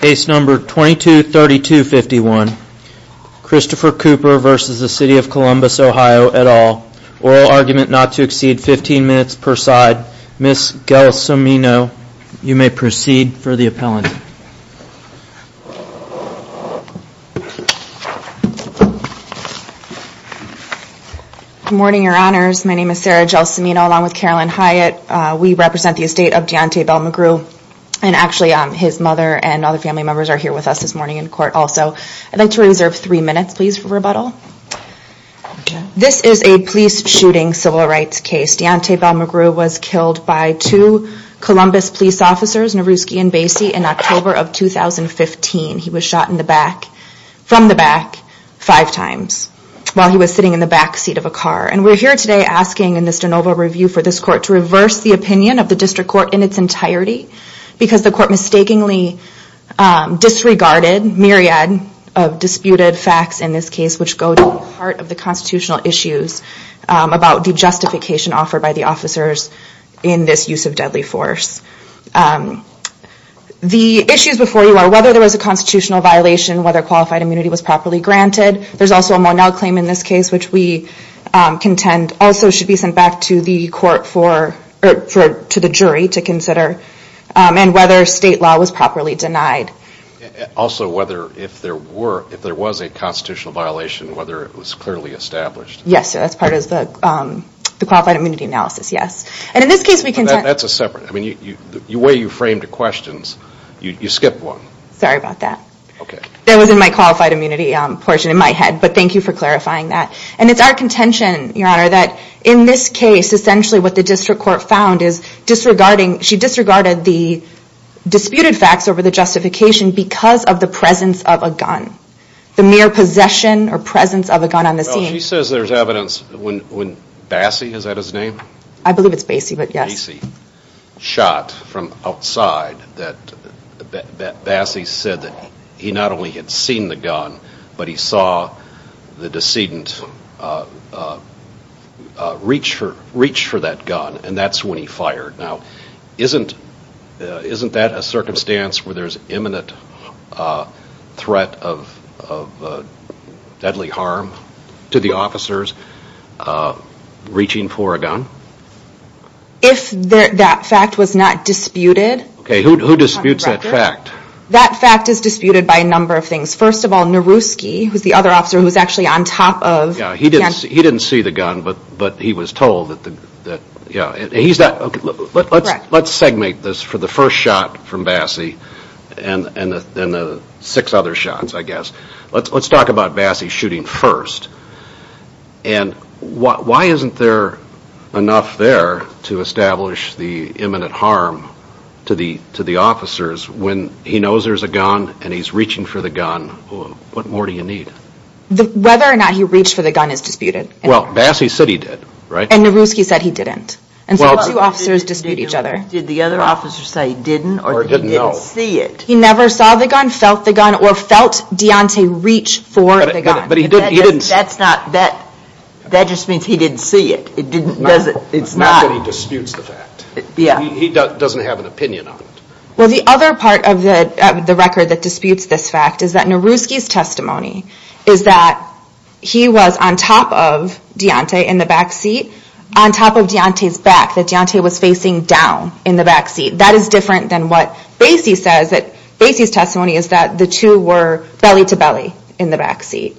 Case number 223251 Christopher Cooper v. City of Columbus OH et al. Oral argument not to exceed 15 minutes per side. Ms. Gelsomino, you may proceed for the appellant. Good morning your honors. My name is Sarah Gelsomino along with Carolyn Hyatt. We represent the estate of Deontay Bell McGrew and actually his mother and other family members are here with us this morning in court also. I'd like to reserve three minutes please for rebuttal. This is a police shooting civil rights case. Deontay Bell McGrew was killed by two Columbus police officers, Nowrooski and Bassey in October of 2015. He was shot in the back, from the back five times while he was sitting in the back seat of a car. And we're here today asking in this de novo review for this court to reverse the opinion of the district court in its entirety because the court mistakenly disregarded myriad of disputed facts in this case which go to the heart of the constitutional issues about the justification offered by the officers in this use of deadly force. The issues before you are whether there was a constitutional violation, whether qualified immunity was properly granted. There's also a Monell claim in this case which we contend also should be sent back to the court for, to the jury to consider and whether state law was properly denied. Also whether if there were, if there was a constitutional violation, whether it was clearly established. Yes, that's part of the qualified immunity analysis, yes. And in this case we contend. That's a separate, I mean the way you framed the questions, you skipped one. Sorry about that. Okay. That was in my qualified immunity portion in my head, but thank you for clarifying that. And it's our contention, your honor, that in this case essentially what the district court found is disregarding, she disregarded the disputed facts over the justification because of the presence of a gun. The mere possession or presence of a gun on the scene. Well, she says there's evidence when Bassey, is that his name? I believe it's Bassey, but yes. Bassey shot from outside that Bassey said that he not only had seen the gun, but he saw the decedent reach for that gun and that's when he fired. Now, isn't that a circumstance where there's imminent threat of deadly harm to the officers reaching for a gun? If that fact was not disputed. Okay, who disputes that fact? That fact is disputed by a number of things. First of all, Naruski, who's the other officer who's actually on top of. Yeah, he didn't see the gun, but he was told that the, yeah. He's not, let's segment this for the first shot from Bassey and the six other shots, I guess. Let's talk about Bassey shooting first. And why isn't there enough there to establish the imminent harm to the officers when he knows there's a gun and he's reaching for the gun? What more do you need? Whether or not he reached for the gun is disputed. Well, Bassey said he did, right? And Naruski said he didn't. And so the two officers dispute each other. Did the other officer say he didn't or that he didn't see it? He never saw the gun, felt the gun, or felt Deontay reach for the gun. But he didn't, he didn't. That's not, that just means he didn't see it. It's not that he disputes the fact. He doesn't have an opinion on it. Well, the other part of the record that disputes this fact is that Naruski's testimony is that he was on top of Deontay in the backseat, on top of Deontay's back, that Deontay was facing down in the backseat. That is different than what Bassey says, that Bassey's testimony is that the two were belly to belly in the backseat.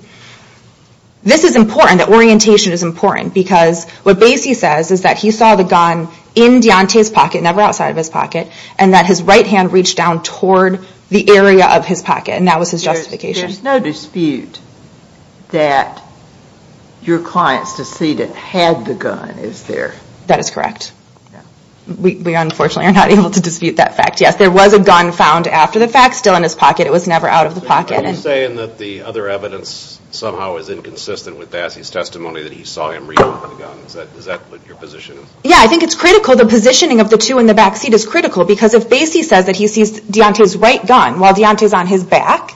This is important, that orientation is important, because what Bassey says is that he saw the gun in Deontay's pocket, never outside of his pocket, and that his right hand reached down toward the area of his pocket, and that was his justification. There's no dispute that your client's decedent had the gun, is there? That is correct. We unfortunately are not able to dispute that fact. Yes, there was a gun found after the fact, still in his pocket. It was never out of the pocket. Are you saying that the other evidence somehow is inconsistent with Bassey's testimony that he saw him reach for the gun? Is that your position? Yes, I think it's critical. The positioning of the two in the backseat is critical, because if Bassey says that he sees Deontay's right gun while Deontay's on his back,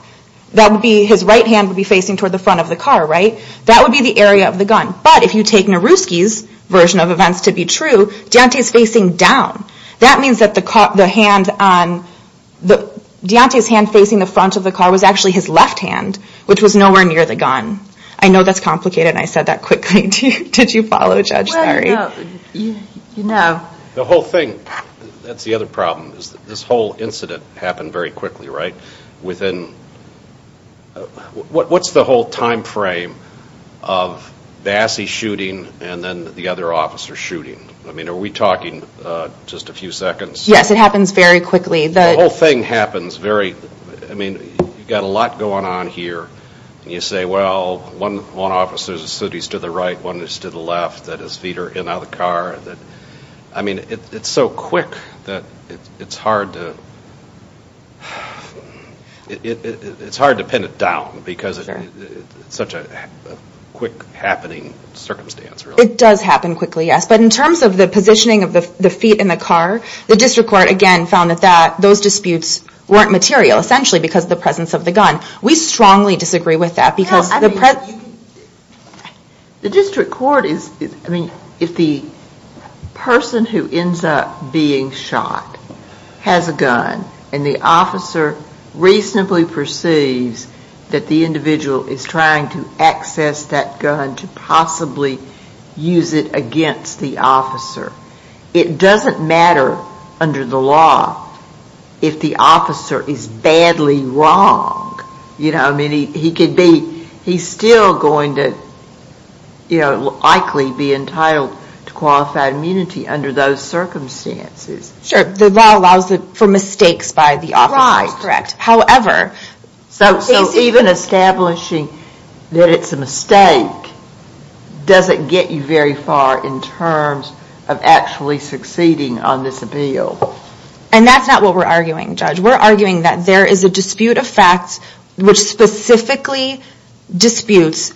that would be his right hand facing toward the front of the car, right? That would be the area of the gun, but if you take Naruski's version of events to be true, Deontay's facing down. That means that Deontay's hand facing the front of the car was actually his left hand, which was nowhere near the gun. I know that's complicated and I said that quickly. Did you follow, Judge? Sorry. The whole thing, that's the other problem, is that this whole incident happened very quickly, right? What's the whole time frame of Bassey shooting and then the other officer shooting? Are we talking just a few seconds? Yes, it happens very quickly. The whole thing happens very, I mean, you've got a lot going on here and you say, well, one officer's suit is to the right, one is to the left, that his feet are in on the car. I mean, it's so quick that it's hard to pin it down, because it's such a quick happening circumstance. It does happen quickly, yes, but in terms of the positioning of the feet in the car, the district court, again, found that those disputes weren't material, essentially because of the presence of the gun. We strongly disagree with that. The district court is, I mean, if the person who ends up being shot has a gun and the officer reasonably perceives that the individual is trying to access that gun to possibly use it against the officer, it doesn't matter under the law if the officer is badly wrong. I mean, he could be, he's still going to likely be entitled to qualified immunity under those circumstances. Sure, the law allows for mistakes by the officers, correct. However, he's even establishing that it's a mistake doesn't get you very far in terms of actually succeeding on this appeal. And that's not what we're arguing, Judge. We're arguing that there is a dispute of facts which specifically disputes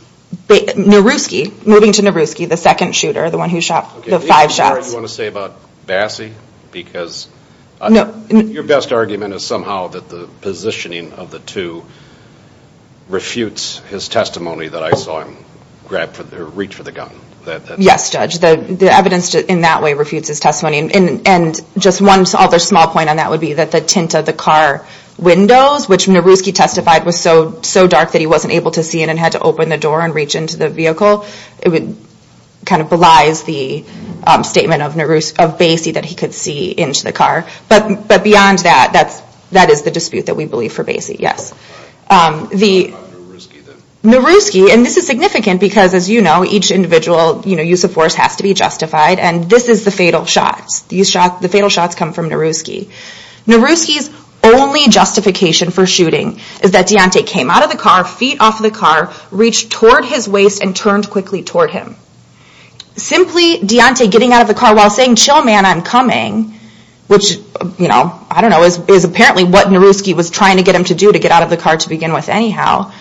Nowrooski, moving to Nowrooski, the second shooter, the one who shot the five shots. Is there anything you want to say about Bassey? Because your best argument is somehow that the positioning of the two refutes his testimony. That I saw him reach for the gun. Yes, Judge. The evidence in that way refutes his testimony. And just one other small point on that would be that the tint of the car windows, which Nowrooski testified was so dark that he wasn't able to see it and had to open the door and reach into the vehicle. It kind of belies the statement of Bassey that he could see into the car. But beyond that, that is the dispute that we believe for Bassey, yes. Nowrooski, and this is significant because as you know, each individual use of force has to be justified. And this is the fatal shots. The fatal shots come from Nowrooski. Nowrooski's only justification for shooting is that Deontay came out of the car, feet off the car, reached toward his waist and turned quickly toward him. Simply Deontay getting out of the car while saying, chill man, I'm coming, which I don't know, is apparently what Nowrooski was trying to get him to do to get out of the car to begin with anyhow.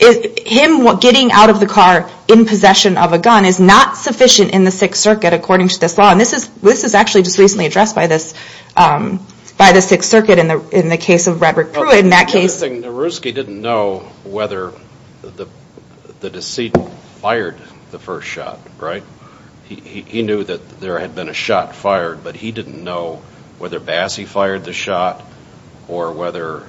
Him getting out of the car in possession of a gun is not sufficient in the Sixth Circuit according to this law. And this is actually just recently addressed by the Sixth Circuit in the case of Redrick Pruitt. In that case... The interesting thing, Nowrooski didn't know whether the deceit fired the first shot, right? He knew that there had been a shot fired, but he didn't know whether Bassey fired the shot or whether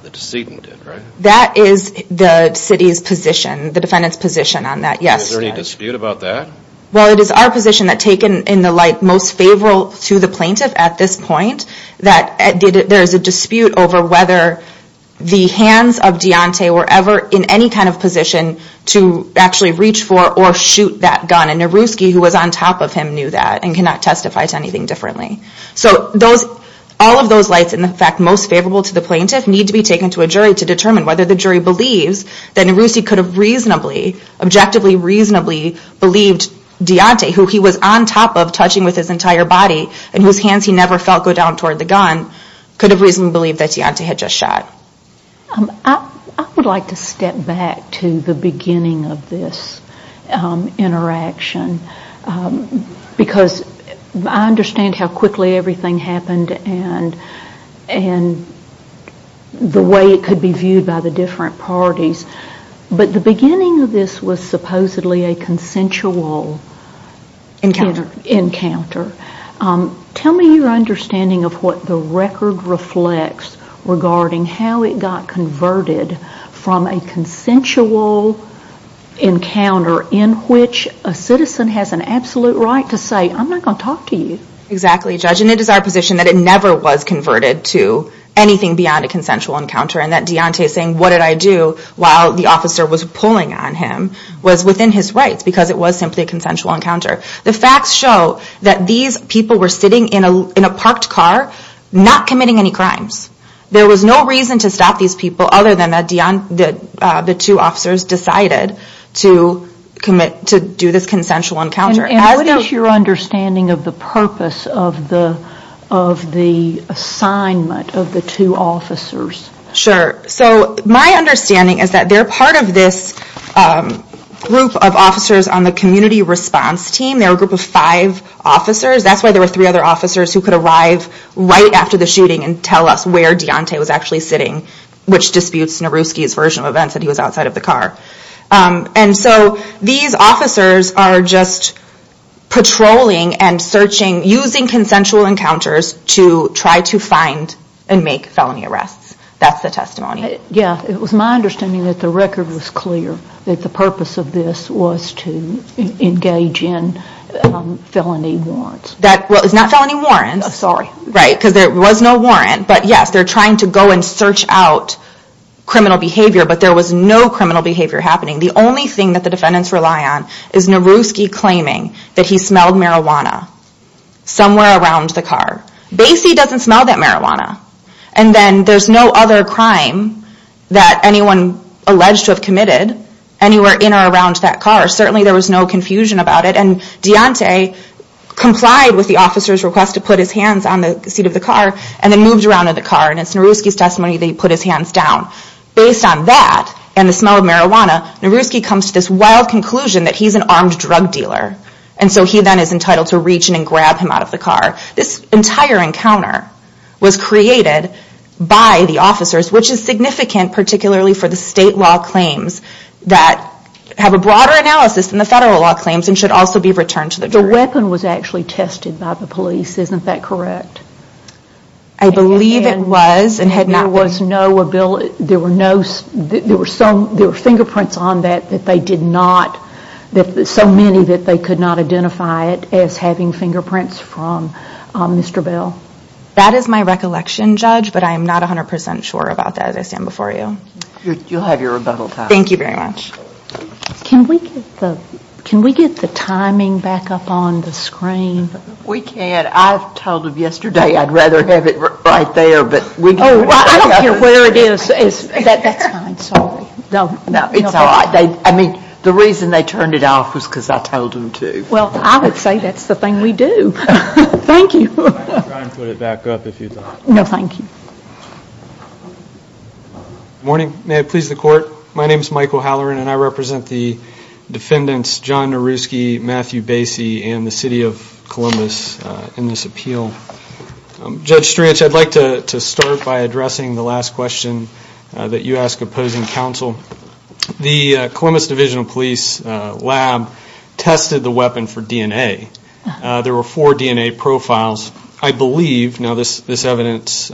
the decedent did, right? That is the city's position, the defendant's position on that, yes. Is there any dispute about that? Well, it is our position that taken in the light most favorable to the plaintiff at this point that there is a dispute over whether the hands of Deontay were ever in any kind of position to actually reach for or shoot that gun. And Nowrooski, who was on top of him, knew that and cannot testify to anything differently. So all of those lights in effect most favorable to the plaintiff need to be taken to a jury to determine whether the jury believes that Nowrooski could have reasonably, objectively reasonably believed Deontay, who he was on top of touching with his entire body and whose hands he never felt go down toward the gun, could have reasonably believed that Deontay had just shot. I would like to step back to the beginning of this interaction because I understand how quickly everything happened and the way it could be viewed by the different parties. But the beginning of this was supposedly a consensual encounter. Tell me your understanding of what the record reflects regarding how it got converted from a consensual encounter in which a citizen has an absolute right to say, I'm not going to talk to you. Exactly, Judge. And it is our position that it never was converted to anything beyond a consensual encounter and that Deontay saying, what did I do while the officer was pulling on him was within his rights because it was simply a consensual encounter. The facts show that these people were sitting in a parked car not committing any crimes. There was no reason to stop these people other than the two officers decided to do this consensual encounter. And what is your understanding of the purpose of the assignment of the two officers? Sure, so my understanding is that they're part of this group of officers on the community response team. They're a group of five officers. That's why there were three other officers who could arrive right after the shooting and tell us where Deontay was actually sitting, which disputes Naruski's version of events that he was outside of the car. And so these officers are just patrolling and searching, using consensual encounters to try to find and make felony arrests. That's the testimony. Yeah, it was my understanding that the record was clear that the purpose of this was to engage in felony warrants. Well, it's not felony warrants, right, because there was no warrant. But yes, they're trying to go and search out criminal behavior, but there was no criminal behavior happening. The only thing that the defendants rely on is Naruski claiming that he smelled marijuana somewhere around the car. Basie doesn't smell that marijuana. And then there's no other crime that anyone alleged to have committed anywhere in or around that car. Certainly there was no confusion about it, and Deontay complied with the officer's request to put his hands on the seat of the car and then moved around in the car, and it's Naruski's testimony that he put his hands down. Based on that and the smell of marijuana, Naruski comes to this wild conclusion that he's an armed drug dealer, and so he then is entitled to reach in and grab him out of the car. This entire encounter was created by the officers, which is significant, particularly for the federal law claims and should also be returned to the jury. The weapon was actually tested by the police, isn't that correct? I believe it was and had not been. There were fingerprints on that that they did not, so many that they could not identify it as having fingerprints from Mr. Bell. That is my recollection, Judge, but I am not 100% sure about that as I stand before you. You'll have your rebuttal time. Thank you very much. Can we get the timing back up on the screen? We can. I've told them yesterday I'd rather have it right there, but we can't. Oh, well, I don't care where it is, that's fine, sorry. No, it's all right. The reason they turned it off was because I told them to. Well, I would say that's the thing we do. Thank you. I'll try and put it back up if you'd like. No, thank you. Good morning. May it please the Court. My name is Michael Halloran, and I represent the defendants John Nowrooski, Matthew Bassey, and the City of Columbus in this appeal. Judge Stranch, I'd like to start by addressing the last question that you asked opposing counsel. The Columbus Division of Police lab tested the weapon for DNA. There were four DNA profiles. I believe, now this evidence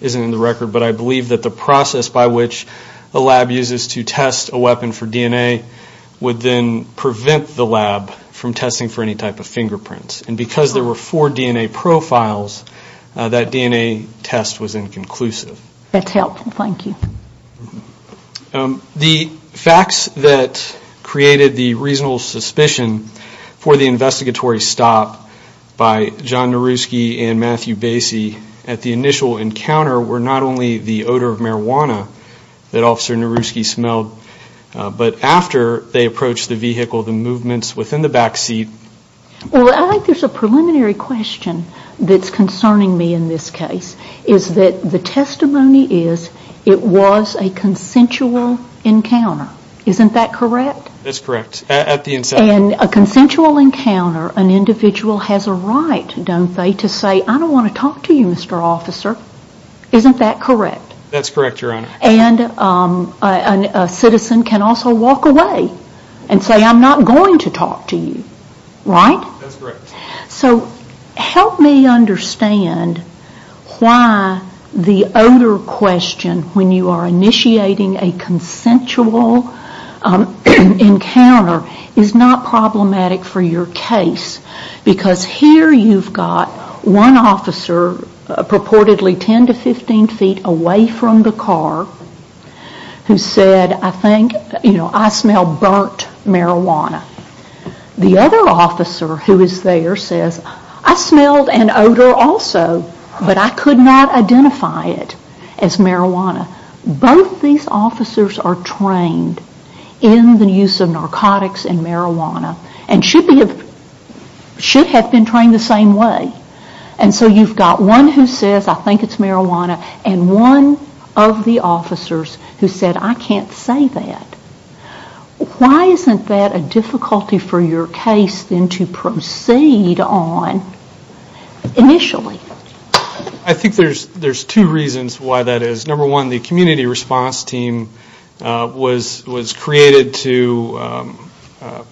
isn't in the record, but I believe that the process by which a lab uses to test a weapon for DNA would then prevent the lab from testing for any type of fingerprints. Because there were four DNA profiles, that DNA test was inconclusive. That's helpful, thank you. The facts that created the reasonable suspicion for the investigatory stop by John Nowrooski and Matthew Bassey at the initial encounter were not only the odor of marijuana that Officer Nowrooski smelled, but after they approached the vehicle, the movements within the back seat... Well, I think there's a preliminary question that's concerning me in this case. Is that the testimony is, it was a consensual encounter. Isn't that correct? That's correct. At the incident. In a consensual encounter, an individual has a right, don't they, to say, I don't want to talk to you, Mr. Officer. Isn't that correct? That's correct, Your Honor. And a citizen can also walk away and say, I'm not going to talk to you. Right? That's correct. So, help me understand why the odor question, when you are initiating a consensual encounter, is not problematic for your case. Because here you've got one officer, purportedly 10 to 15 feet away from the car, who said, I think, you know, I smell burnt marijuana. The other officer who is there says, I smelled an odor also, but I could not identify it as marijuana. Both these officers are trained in the use of narcotics and marijuana and should have been trained the same way. And so you've got one who says, I think it's marijuana, and one of the officers who said, I can't say that. Why isn't that a difficulty for your case then to proceed on initially? I think there's two reasons why that is. Number one, the community response team was created to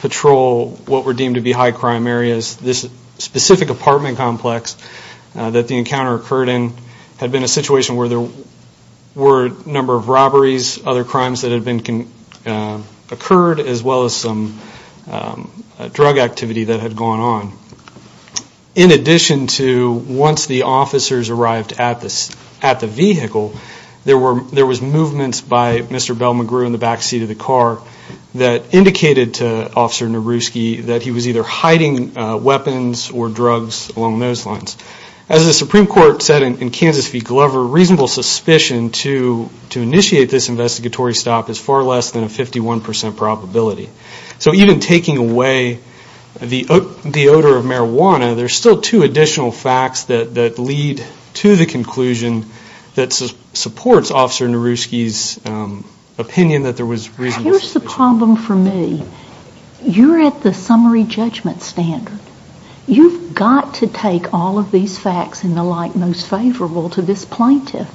patrol what were deemed to be high crime areas. This specific apartment complex that the encounter occurred in had been a situation where there were a number of robberies, other crimes that had occurred, as well as some drug activity that had gone on. In addition to once the officers arrived at the vehicle, there was movements by Mr. Bell McGrew in the back seat of the car that indicated to Officer Nowrooski that he was either hiding weapons or drugs along those lines. As the Supreme Court said in Kansas v. Glover, reasonable suspicion to initiate this investigatory stop is far less than a 51% probability. So even taking away the odor of marijuana, there's still two additional facts that lead to the conclusion that supports Officer Nowrooski's opinion that there was reasonable suspicion. Here's the problem for me. You're at the summary judgment standard. You've got to take all of these facts in the light most favorable to this plaintiff.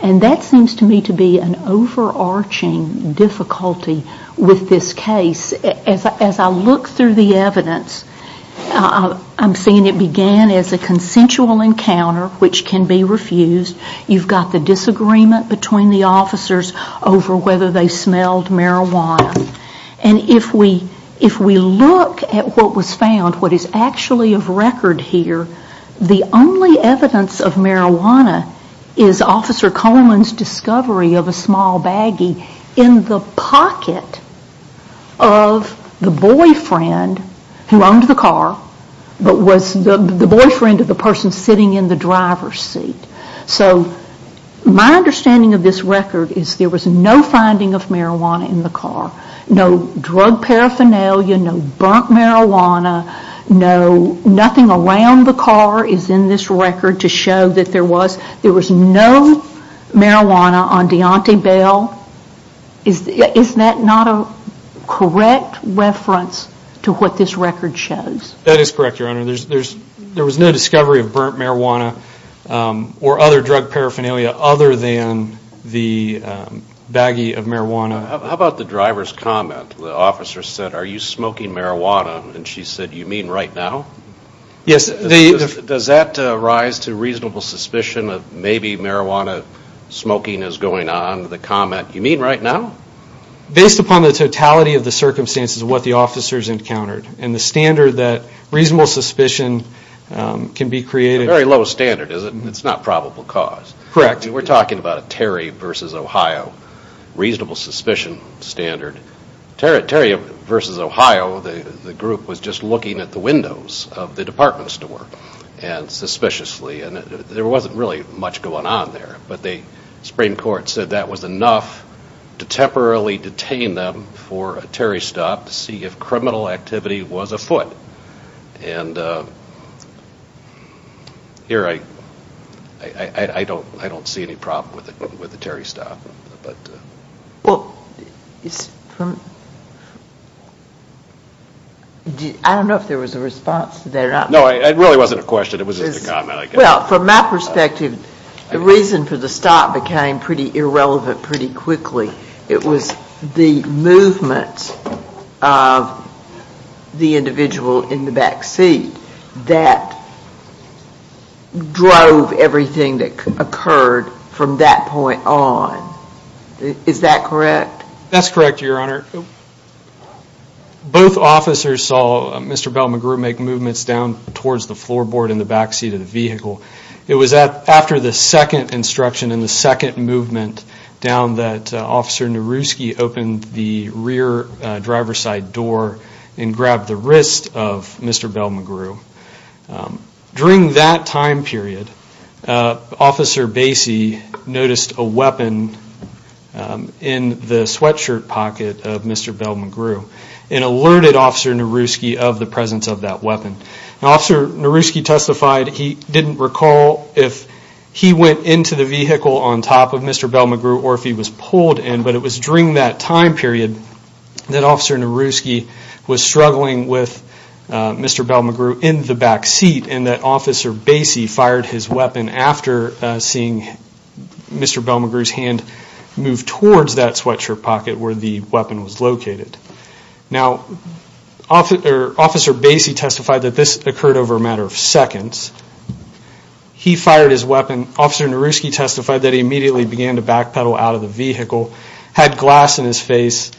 And that seems to me to be an overarching difficulty with this case. As I look through the evidence, I'm seeing it began as a consensual encounter which can be refused. You've got the disagreement between the officers over whether they smelled marijuana. And if we look at what was found, what is actually of record here, the only evidence of marijuana is Officer Coleman's discovery of a small baggie in the pocket of the boyfriend who owned the car, but was the boyfriend of the person sitting in the driver's seat. So my understanding of this record is there was no finding of marijuana in the car. No drug paraphernalia, no burnt marijuana, nothing around the car is in this record to show that there was. There was no marijuana on Deontay Bell. Is that not a correct reference to what this record shows? That is correct, Your Honor. There was no discovery of burnt marijuana or other drug paraphernalia other than the baggie of marijuana. How about the driver's comment? The officer said, are you smoking marijuana? And she said, you mean right now? Yes. Does that rise to reasonable suspicion that maybe marijuana smoking is going on, the comment, you mean right now? Based upon the totality of the circumstances of what the officers encountered and the standard that reasonable suspicion can be created. A very low standard, is it? It's not probable cause. Correct. We're talking about a Terry v. Ohio reasonable suspicion standard. Terry v. Ohio, the group was just looking at the windows of the department store and suspiciously and there wasn't really much going on there. But the Supreme Court said that was enough to temporarily detain them for a Terry stop to see if criminal activity was afoot. And here, I don't see any problem with the Terry stop. Well, I don't know if there was a response to that. No, it really wasn't a question, it was just a comment. Well, from my perspective, the reason for the stop became pretty irrelevant pretty quickly. It was the movement of the individual in the back seat that drove everything that occurred from that point on. Is that correct? That's correct, Your Honor. Both officers saw Mr. Bell-McGrew make movements down towards the floorboard in the back seat of the vehicle. It was after the second instruction and the second movement down that Officer Nowrooski opened the rear driver's side door and grabbed the wrist of Mr. Bell-McGrew. During that time period, Officer Basie noticed a weapon in the sweatshirt pocket of Mr. Bell-McGrew and alerted Officer Nowrooski of the presence of that weapon. Officer Nowrooski testified that he didn't recall if he went into the vehicle on top of Mr. Bell-McGrew or if he was pulled in, but it was during that time period that Officer Bell-McGrew in the back seat and that Officer Basie fired his weapon after seeing Mr. Bell-McGrew's hand move towards that sweatshirt pocket where the weapon was located. Officer Basie testified that this occurred over a matter of seconds. He fired his weapon, Officer Nowrooski testified that he immediately began to backpedal out of the vehicle, had glass in his face,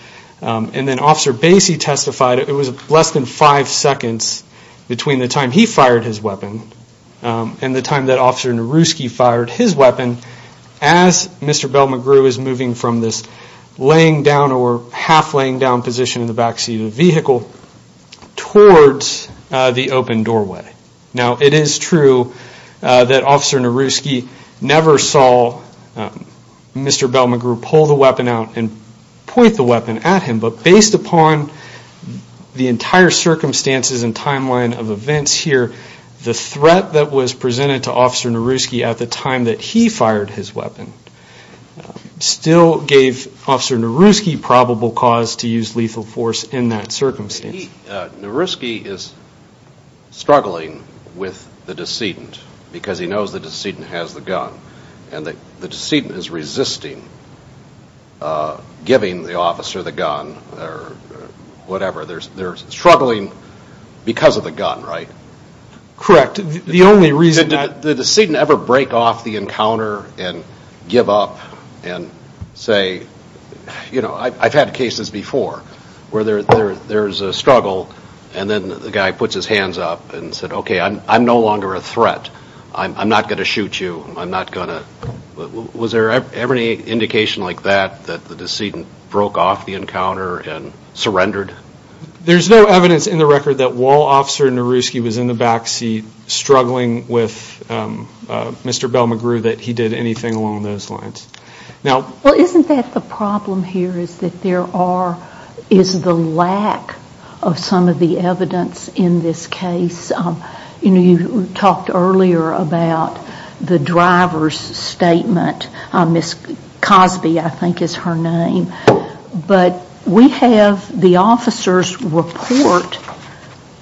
and then Officer Basie testified it was less than five seconds between the time he fired his weapon and the time that Officer Nowrooski fired his weapon as Mr. Bell-McGrew is moving from this laying down or half laying down position in the back seat of the vehicle towards the open doorway. Now it is true that Officer Nowrooski never saw Mr. Bell-McGrew pull the weapon out and given the circumstances and timeline of events here, the threat that was presented to Officer Nowrooski at the time that he fired his weapon still gave Officer Nowrooski probable cause to use lethal force in that circumstance. Nowrooski is struggling with the decedent because he knows the decedent has the gun and the decedent is resisting giving the officer the gun or whatever. They're struggling because of the gun, right? Correct. The only reason that... Did the decedent ever break off the encounter and give up and say, you know, I've had cases before where there's a struggle and then the guy puts his hands up and said, okay, I'm no longer a threat. I'm not going to shoot you. I'm not going to... Was there ever any indication like that that the decedent broke off the encounter and surrendered? There's no evidence in the record that while Officer Nowrooski was in the back seat struggling with Mr. Bell-McGrew that he did anything along those lines. Now... Well, isn't that the problem here is that there are...is the lack of some of the evidence in this case. You know, you talked earlier about the driver's statement, Ms. Cosby I think is her name, but we have the officer's report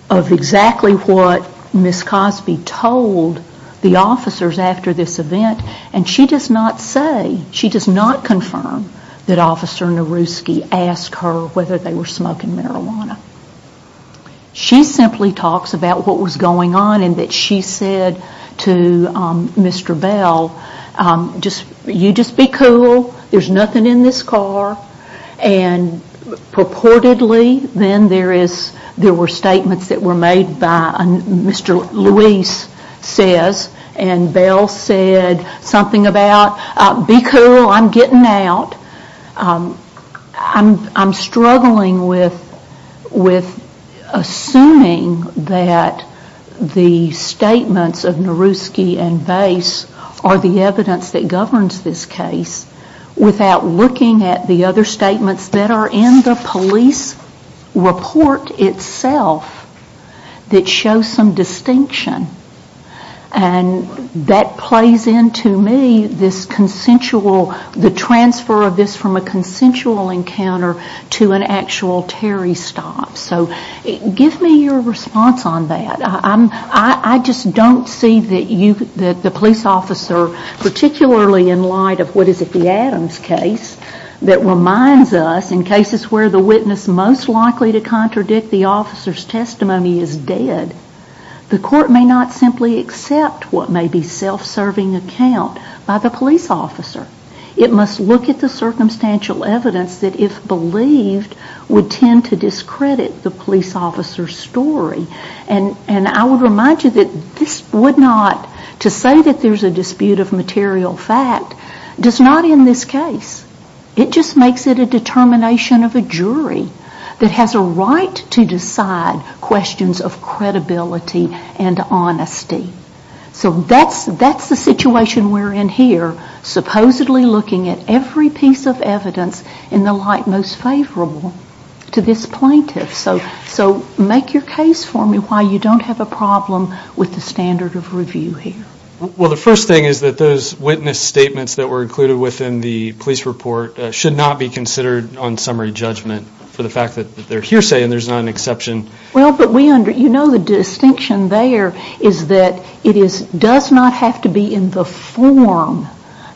of exactly what Ms. Cosby told the officers after this event and she does not say, she does not confirm that Officer Nowrooski asked her whether they were smoking marijuana. She simply talks about what was going on and that she said to Mr. Bell, you just be cool, there's nothing in this car and purportedly then there were statements that were made by Mr. Luis says and Bell said something about, be cool, I'm getting out, I'm struggling with assuming that the statements of Nowrooski and Bass are the evidence that governs this case without looking at the other statements that are in the police report itself that show some distinction and that plays into me this consensual, the transfer of this from a consensual encounter to an actual Terry stop. So give me your response on that. I just don't see that the police officer, particularly in light of what is at the Adams case that reminds us in cases where the witness most likely to contradict the officer's testimony is dead, the court may not simply accept what may be self-serving account by the police officer. It must look at the circumstantial evidence that if believed would tend to discredit the police officer's story and I would remind you that this would not, to say that there is a dispute of material fact, does not in this case. It just makes it a determination of a jury that has a right to decide questions of credibility and honesty. So that's the situation we're in here, supposedly looking at every piece of evidence in the light most favorable to this plaintiff. So make your case for me why you don't have a problem with the standard of review here. Well the first thing is that those witness statements that were included within the police report should not be considered on summary judgment for the fact that they're hearsay and there's not an exception. Well but we under, you know the distinction there is that it does not have to be in the form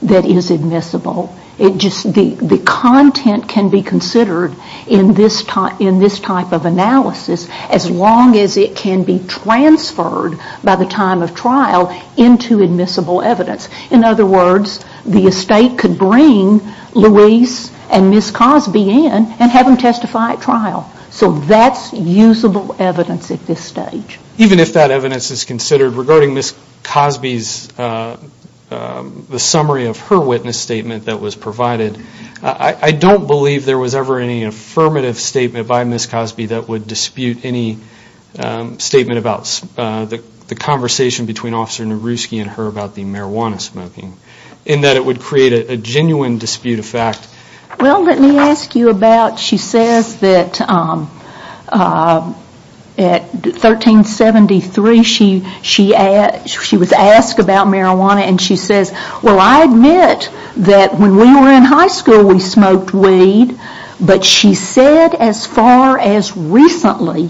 that is admissible. The content can be considered in this type of analysis as long as it can be transferred by the time of trial into admissible evidence. In other words, the estate could bring Louise and Miss Cosby in and have them testify at trial. So that's usable evidence at this stage. Even if that evidence is considered, regarding Miss Cosby's, the summary of her witness statement that was provided, I don't believe there was ever any affirmative statement by Miss Cosby that would dispute any statement about the conversation between Officer Nowrooski and her about the marijuana smoking. In that it would create a genuine dispute of fact. Well let me ask you about, she says that at 1373 she was asked about marijuana and she says, well I admit that when we were in high school we smoked weed, but she said as far as recently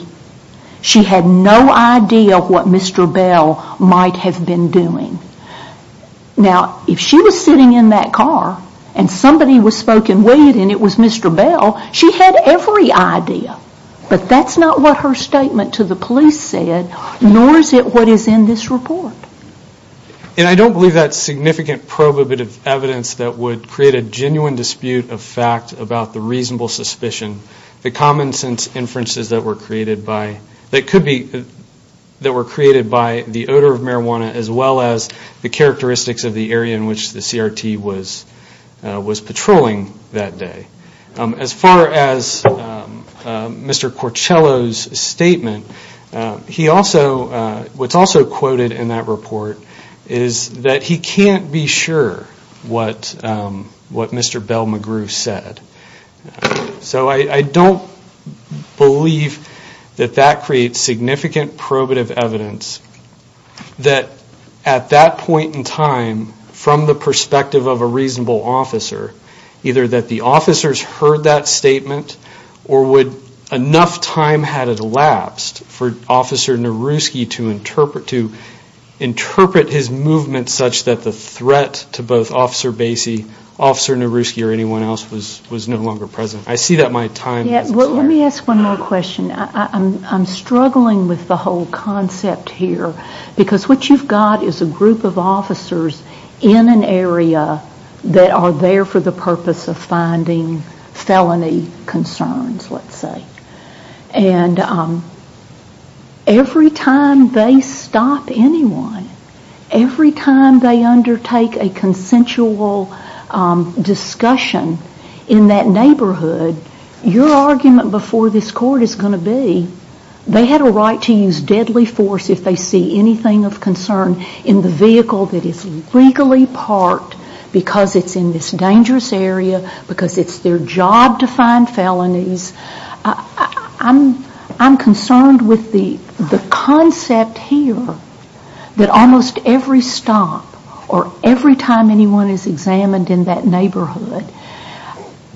she had no idea what Mr. Bell might have been doing. Now, if she was sitting in that car and somebody was smoking weed and it was Mr. Bell, she had every idea, but that's not what her statement to the police said, nor is it what is in this report. And I don't believe that's significant probative evidence that would create a genuine dispute of fact about the reasonable suspicion. The common sense inferences that were created by, that could be, that were created by the characteristics of the area in which the CRT was patrolling that day. As far as Mr. Corcello's statement, he also, what's also quoted in that report is that he can't be sure what Mr. Bell McGrew said. So I don't believe that that creates significant probative evidence that at that point in time from the perspective of a reasonable officer, either that the officers heard that statement or would, enough time had elapsed for Officer Nowrooski to interpret his movements such that the threat to both Officer Bassey, Officer Nowrooski or anyone else was no longer present. I see that my time has expired. Let me ask one more question. I'm struggling with the whole concept here. Because what you've got is a group of officers in an area that are there for the purpose of finding felony concerns, let's say. And every time they stop anyone, every time they undertake a consensual discussion in that neighborhood, your argument before this court is going to be they had a right to use deadly force if they see anything of concern in the vehicle that is legally parked because it's in this dangerous area, because it's their job to find felonies. I'm concerned with the concept here that almost every stop or every time anyone is examined in that neighborhood,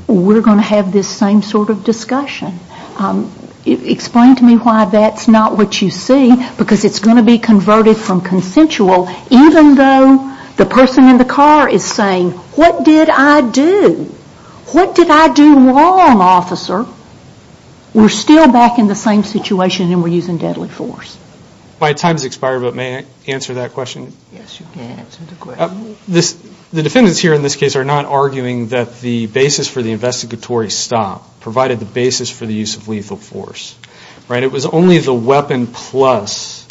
we're going to have this same sort of discussion. Explain to me why that's not what you see because it's going to be converted from consensual even though the person in the car is saying, what did I do? What did I do wrong, officer? We're still back in the same situation and we're using deadly force. My time has expired but may I answer that question? Yes, you can answer the question. The defendants here in this case are not arguing that the basis for the investigatory stop provided the basis for the use of lethal force. It was only the weapon plus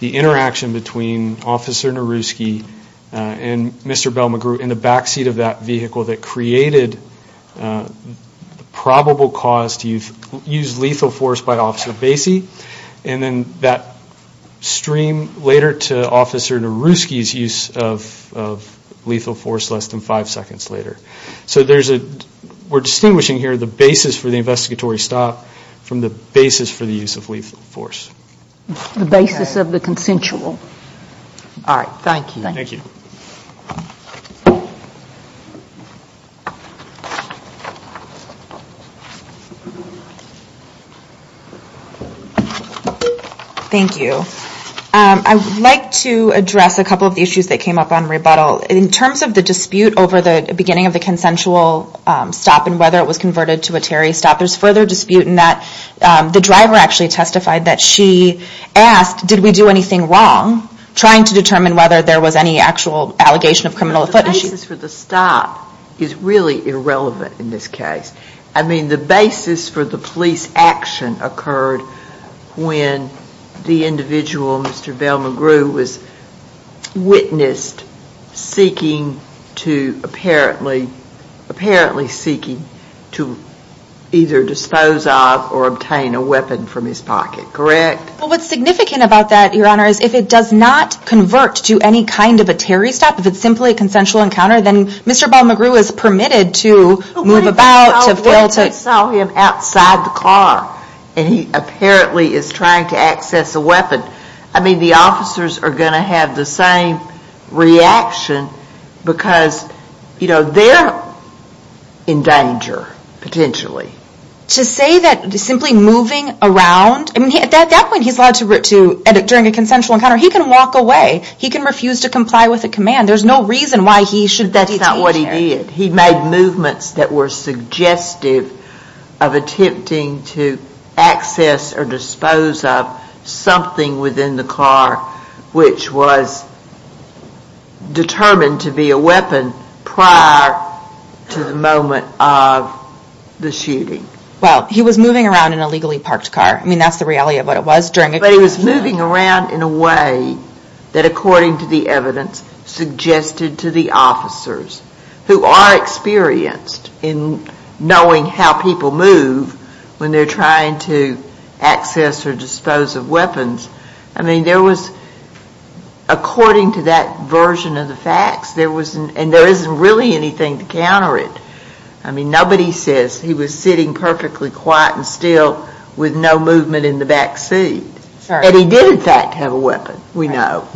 the interaction between Officer Naruski and Mr. Bell McGrew in the backseat of that vehicle that created the probable cause to use lethal force by less than five seconds later. We're distinguishing here the basis for the investigatory stop from the basis for the use of lethal force. The basis of the consensual. Thank you. I would like to address a couple of the issues that came up on rebuttal. In terms of the dispute over the beginning of the consensual stop and whether it was converted to a Terry stop, there's further dispute in that the driver actually testified that she asked, did we do anything wrong, trying to determine whether there was any actual allegation of criminal offense. The basis for the stop is really irrelevant in this case. The basis for the police action occurred when the individual, Mr. Bell McGrew, was witnessed seeking to either dispose of or obtain a weapon from his pocket. What's significant about that, Your Honor, is if it does not convert to any kind of a Terry stop, if it's simply a consensual encounter, then Mr. Bell McGrew is permitted to move about. What if they saw him outside the car and he apparently is trying to access a weapon? The officers are going to have the same reaction because they're in danger, potentially. To say that simply moving around, at that point he's allowed to, during a consensual encounter, he can walk away. He can refuse to comply with a command. There's no reason why he should detain Terry. That's not what he did. He made movements that were suggestive of attempting to access or dispose of something within the car which was determined to be a weapon prior to the moment of the shoot. He was moving around in a legally parked car. That's the reality of what it was. He was moving around in a way that, according to the evidence, suggested to the officers who are experienced in knowing how people move when they're trying to access or dispose of weapons. According to that version of the facts, and there isn't really anything to counter it, nobody says he was sitting perfectly quiet and still with no movement in the back seat. He did, in fact, have a weapon, we know.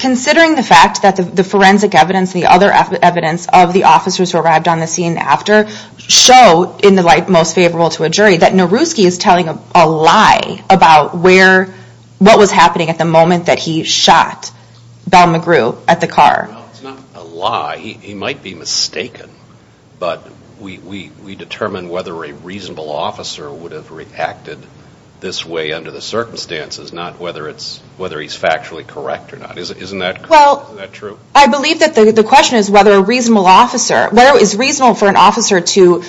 Considering the fact that the forensic evidence, the other evidence of the officers who arrived on the scene after, show, in the light most favorable to a jury, that Naruski is telling a lie about what was happening at the moment that he shot Bell McGrew at the car. It's not a lie. He might be mistaken, but we determine whether a reasonable officer would have reacted this way under the circumstances, not whether he's factually correct or not. Isn't that true? I believe that the question is whether it is reasonable for an officer to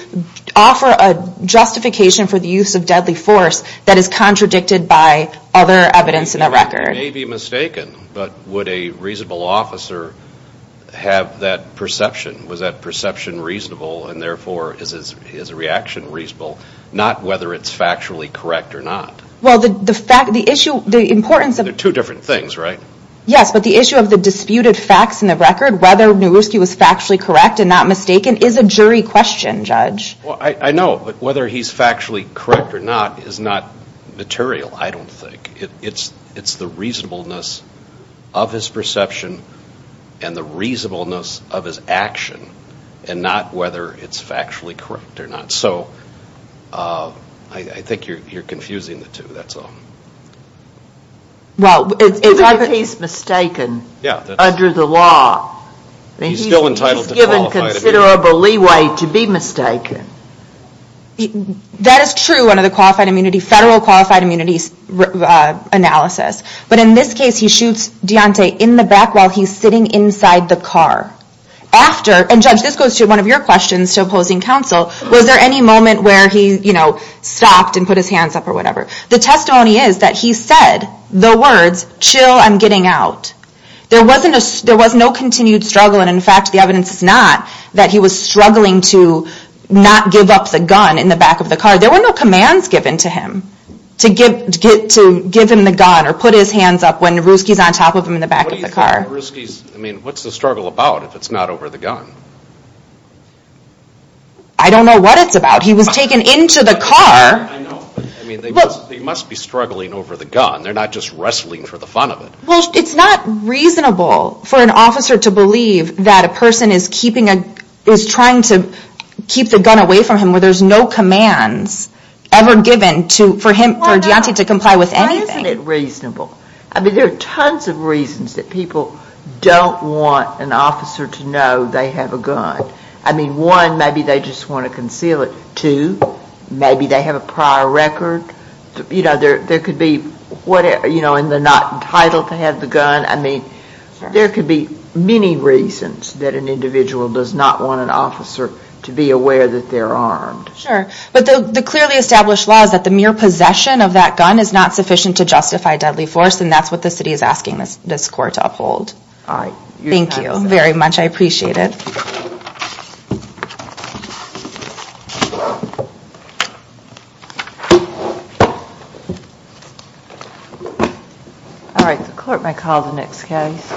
offer a justification for the use of deadly force that is contradicted by other evidence in the record. He may be mistaken, but would a reasonable officer have that perception? Was that perception reasonable, and therefore is his reaction reasonable? Not whether it's factually correct or not. Well, the fact, the issue, the importance of... They're two different things, right? Yes, but the issue of the disputed facts in the record, whether Naruski was factually correct and not mistaken, is a jury question, Judge. I know, but whether he's factually correct or not is not material, I don't think. It's the reasonableness of his perception and the reasonableness of his action and not whether it's factually correct or not. I think you're confusing the two, that's all. Well, if he's mistaken under the law, he's given considerable leeway to be mistaken. That is true under the Federal Qualified Immunity analysis, but in this case, he shoots Deontay in the back while he's sitting inside the car. After, and Judge, this goes to one of your questions to opposing counsel, was there any moment where he stopped and put his hands up or whatever? The testimony is that he said the words, chill, I'm getting out. There was no continued struggle, and in fact, the evidence is not that he was struggling to not give up the gun in the back of the car. There were no commands given to him to give him the gun or put his hands up when Naruski is on top of him in the back of the car. What do you think Naruski's, I mean, what's the struggle about if it's not over the gun? I don't know what it's about. He was taken into the car. I know, but I mean, they must be struggling over the gun. They're not just wrestling for the fun of it. It's not reasonable for an officer to believe that a person is trying to keep the gun away from him where there's no commands ever given for Deontay to comply with anything. Why isn't it reasonable? I mean, there are tons of reasons that people don't want an officer to know they have a gun. I mean, one, maybe they just want to conceal it. Two, maybe they have a prior record. You know, there could be, you know, and they're not entitled to have the gun. I mean, there could be many reasons that an individual does not want an officer to be aware that they're armed. Sure, but the clearly established law is that the mere possession of that gun is not sufficient to justify deadly force, and that's what the city is asking this court to uphold. All right. Thank you very much. I appreciate it. All right. The court may call the next case.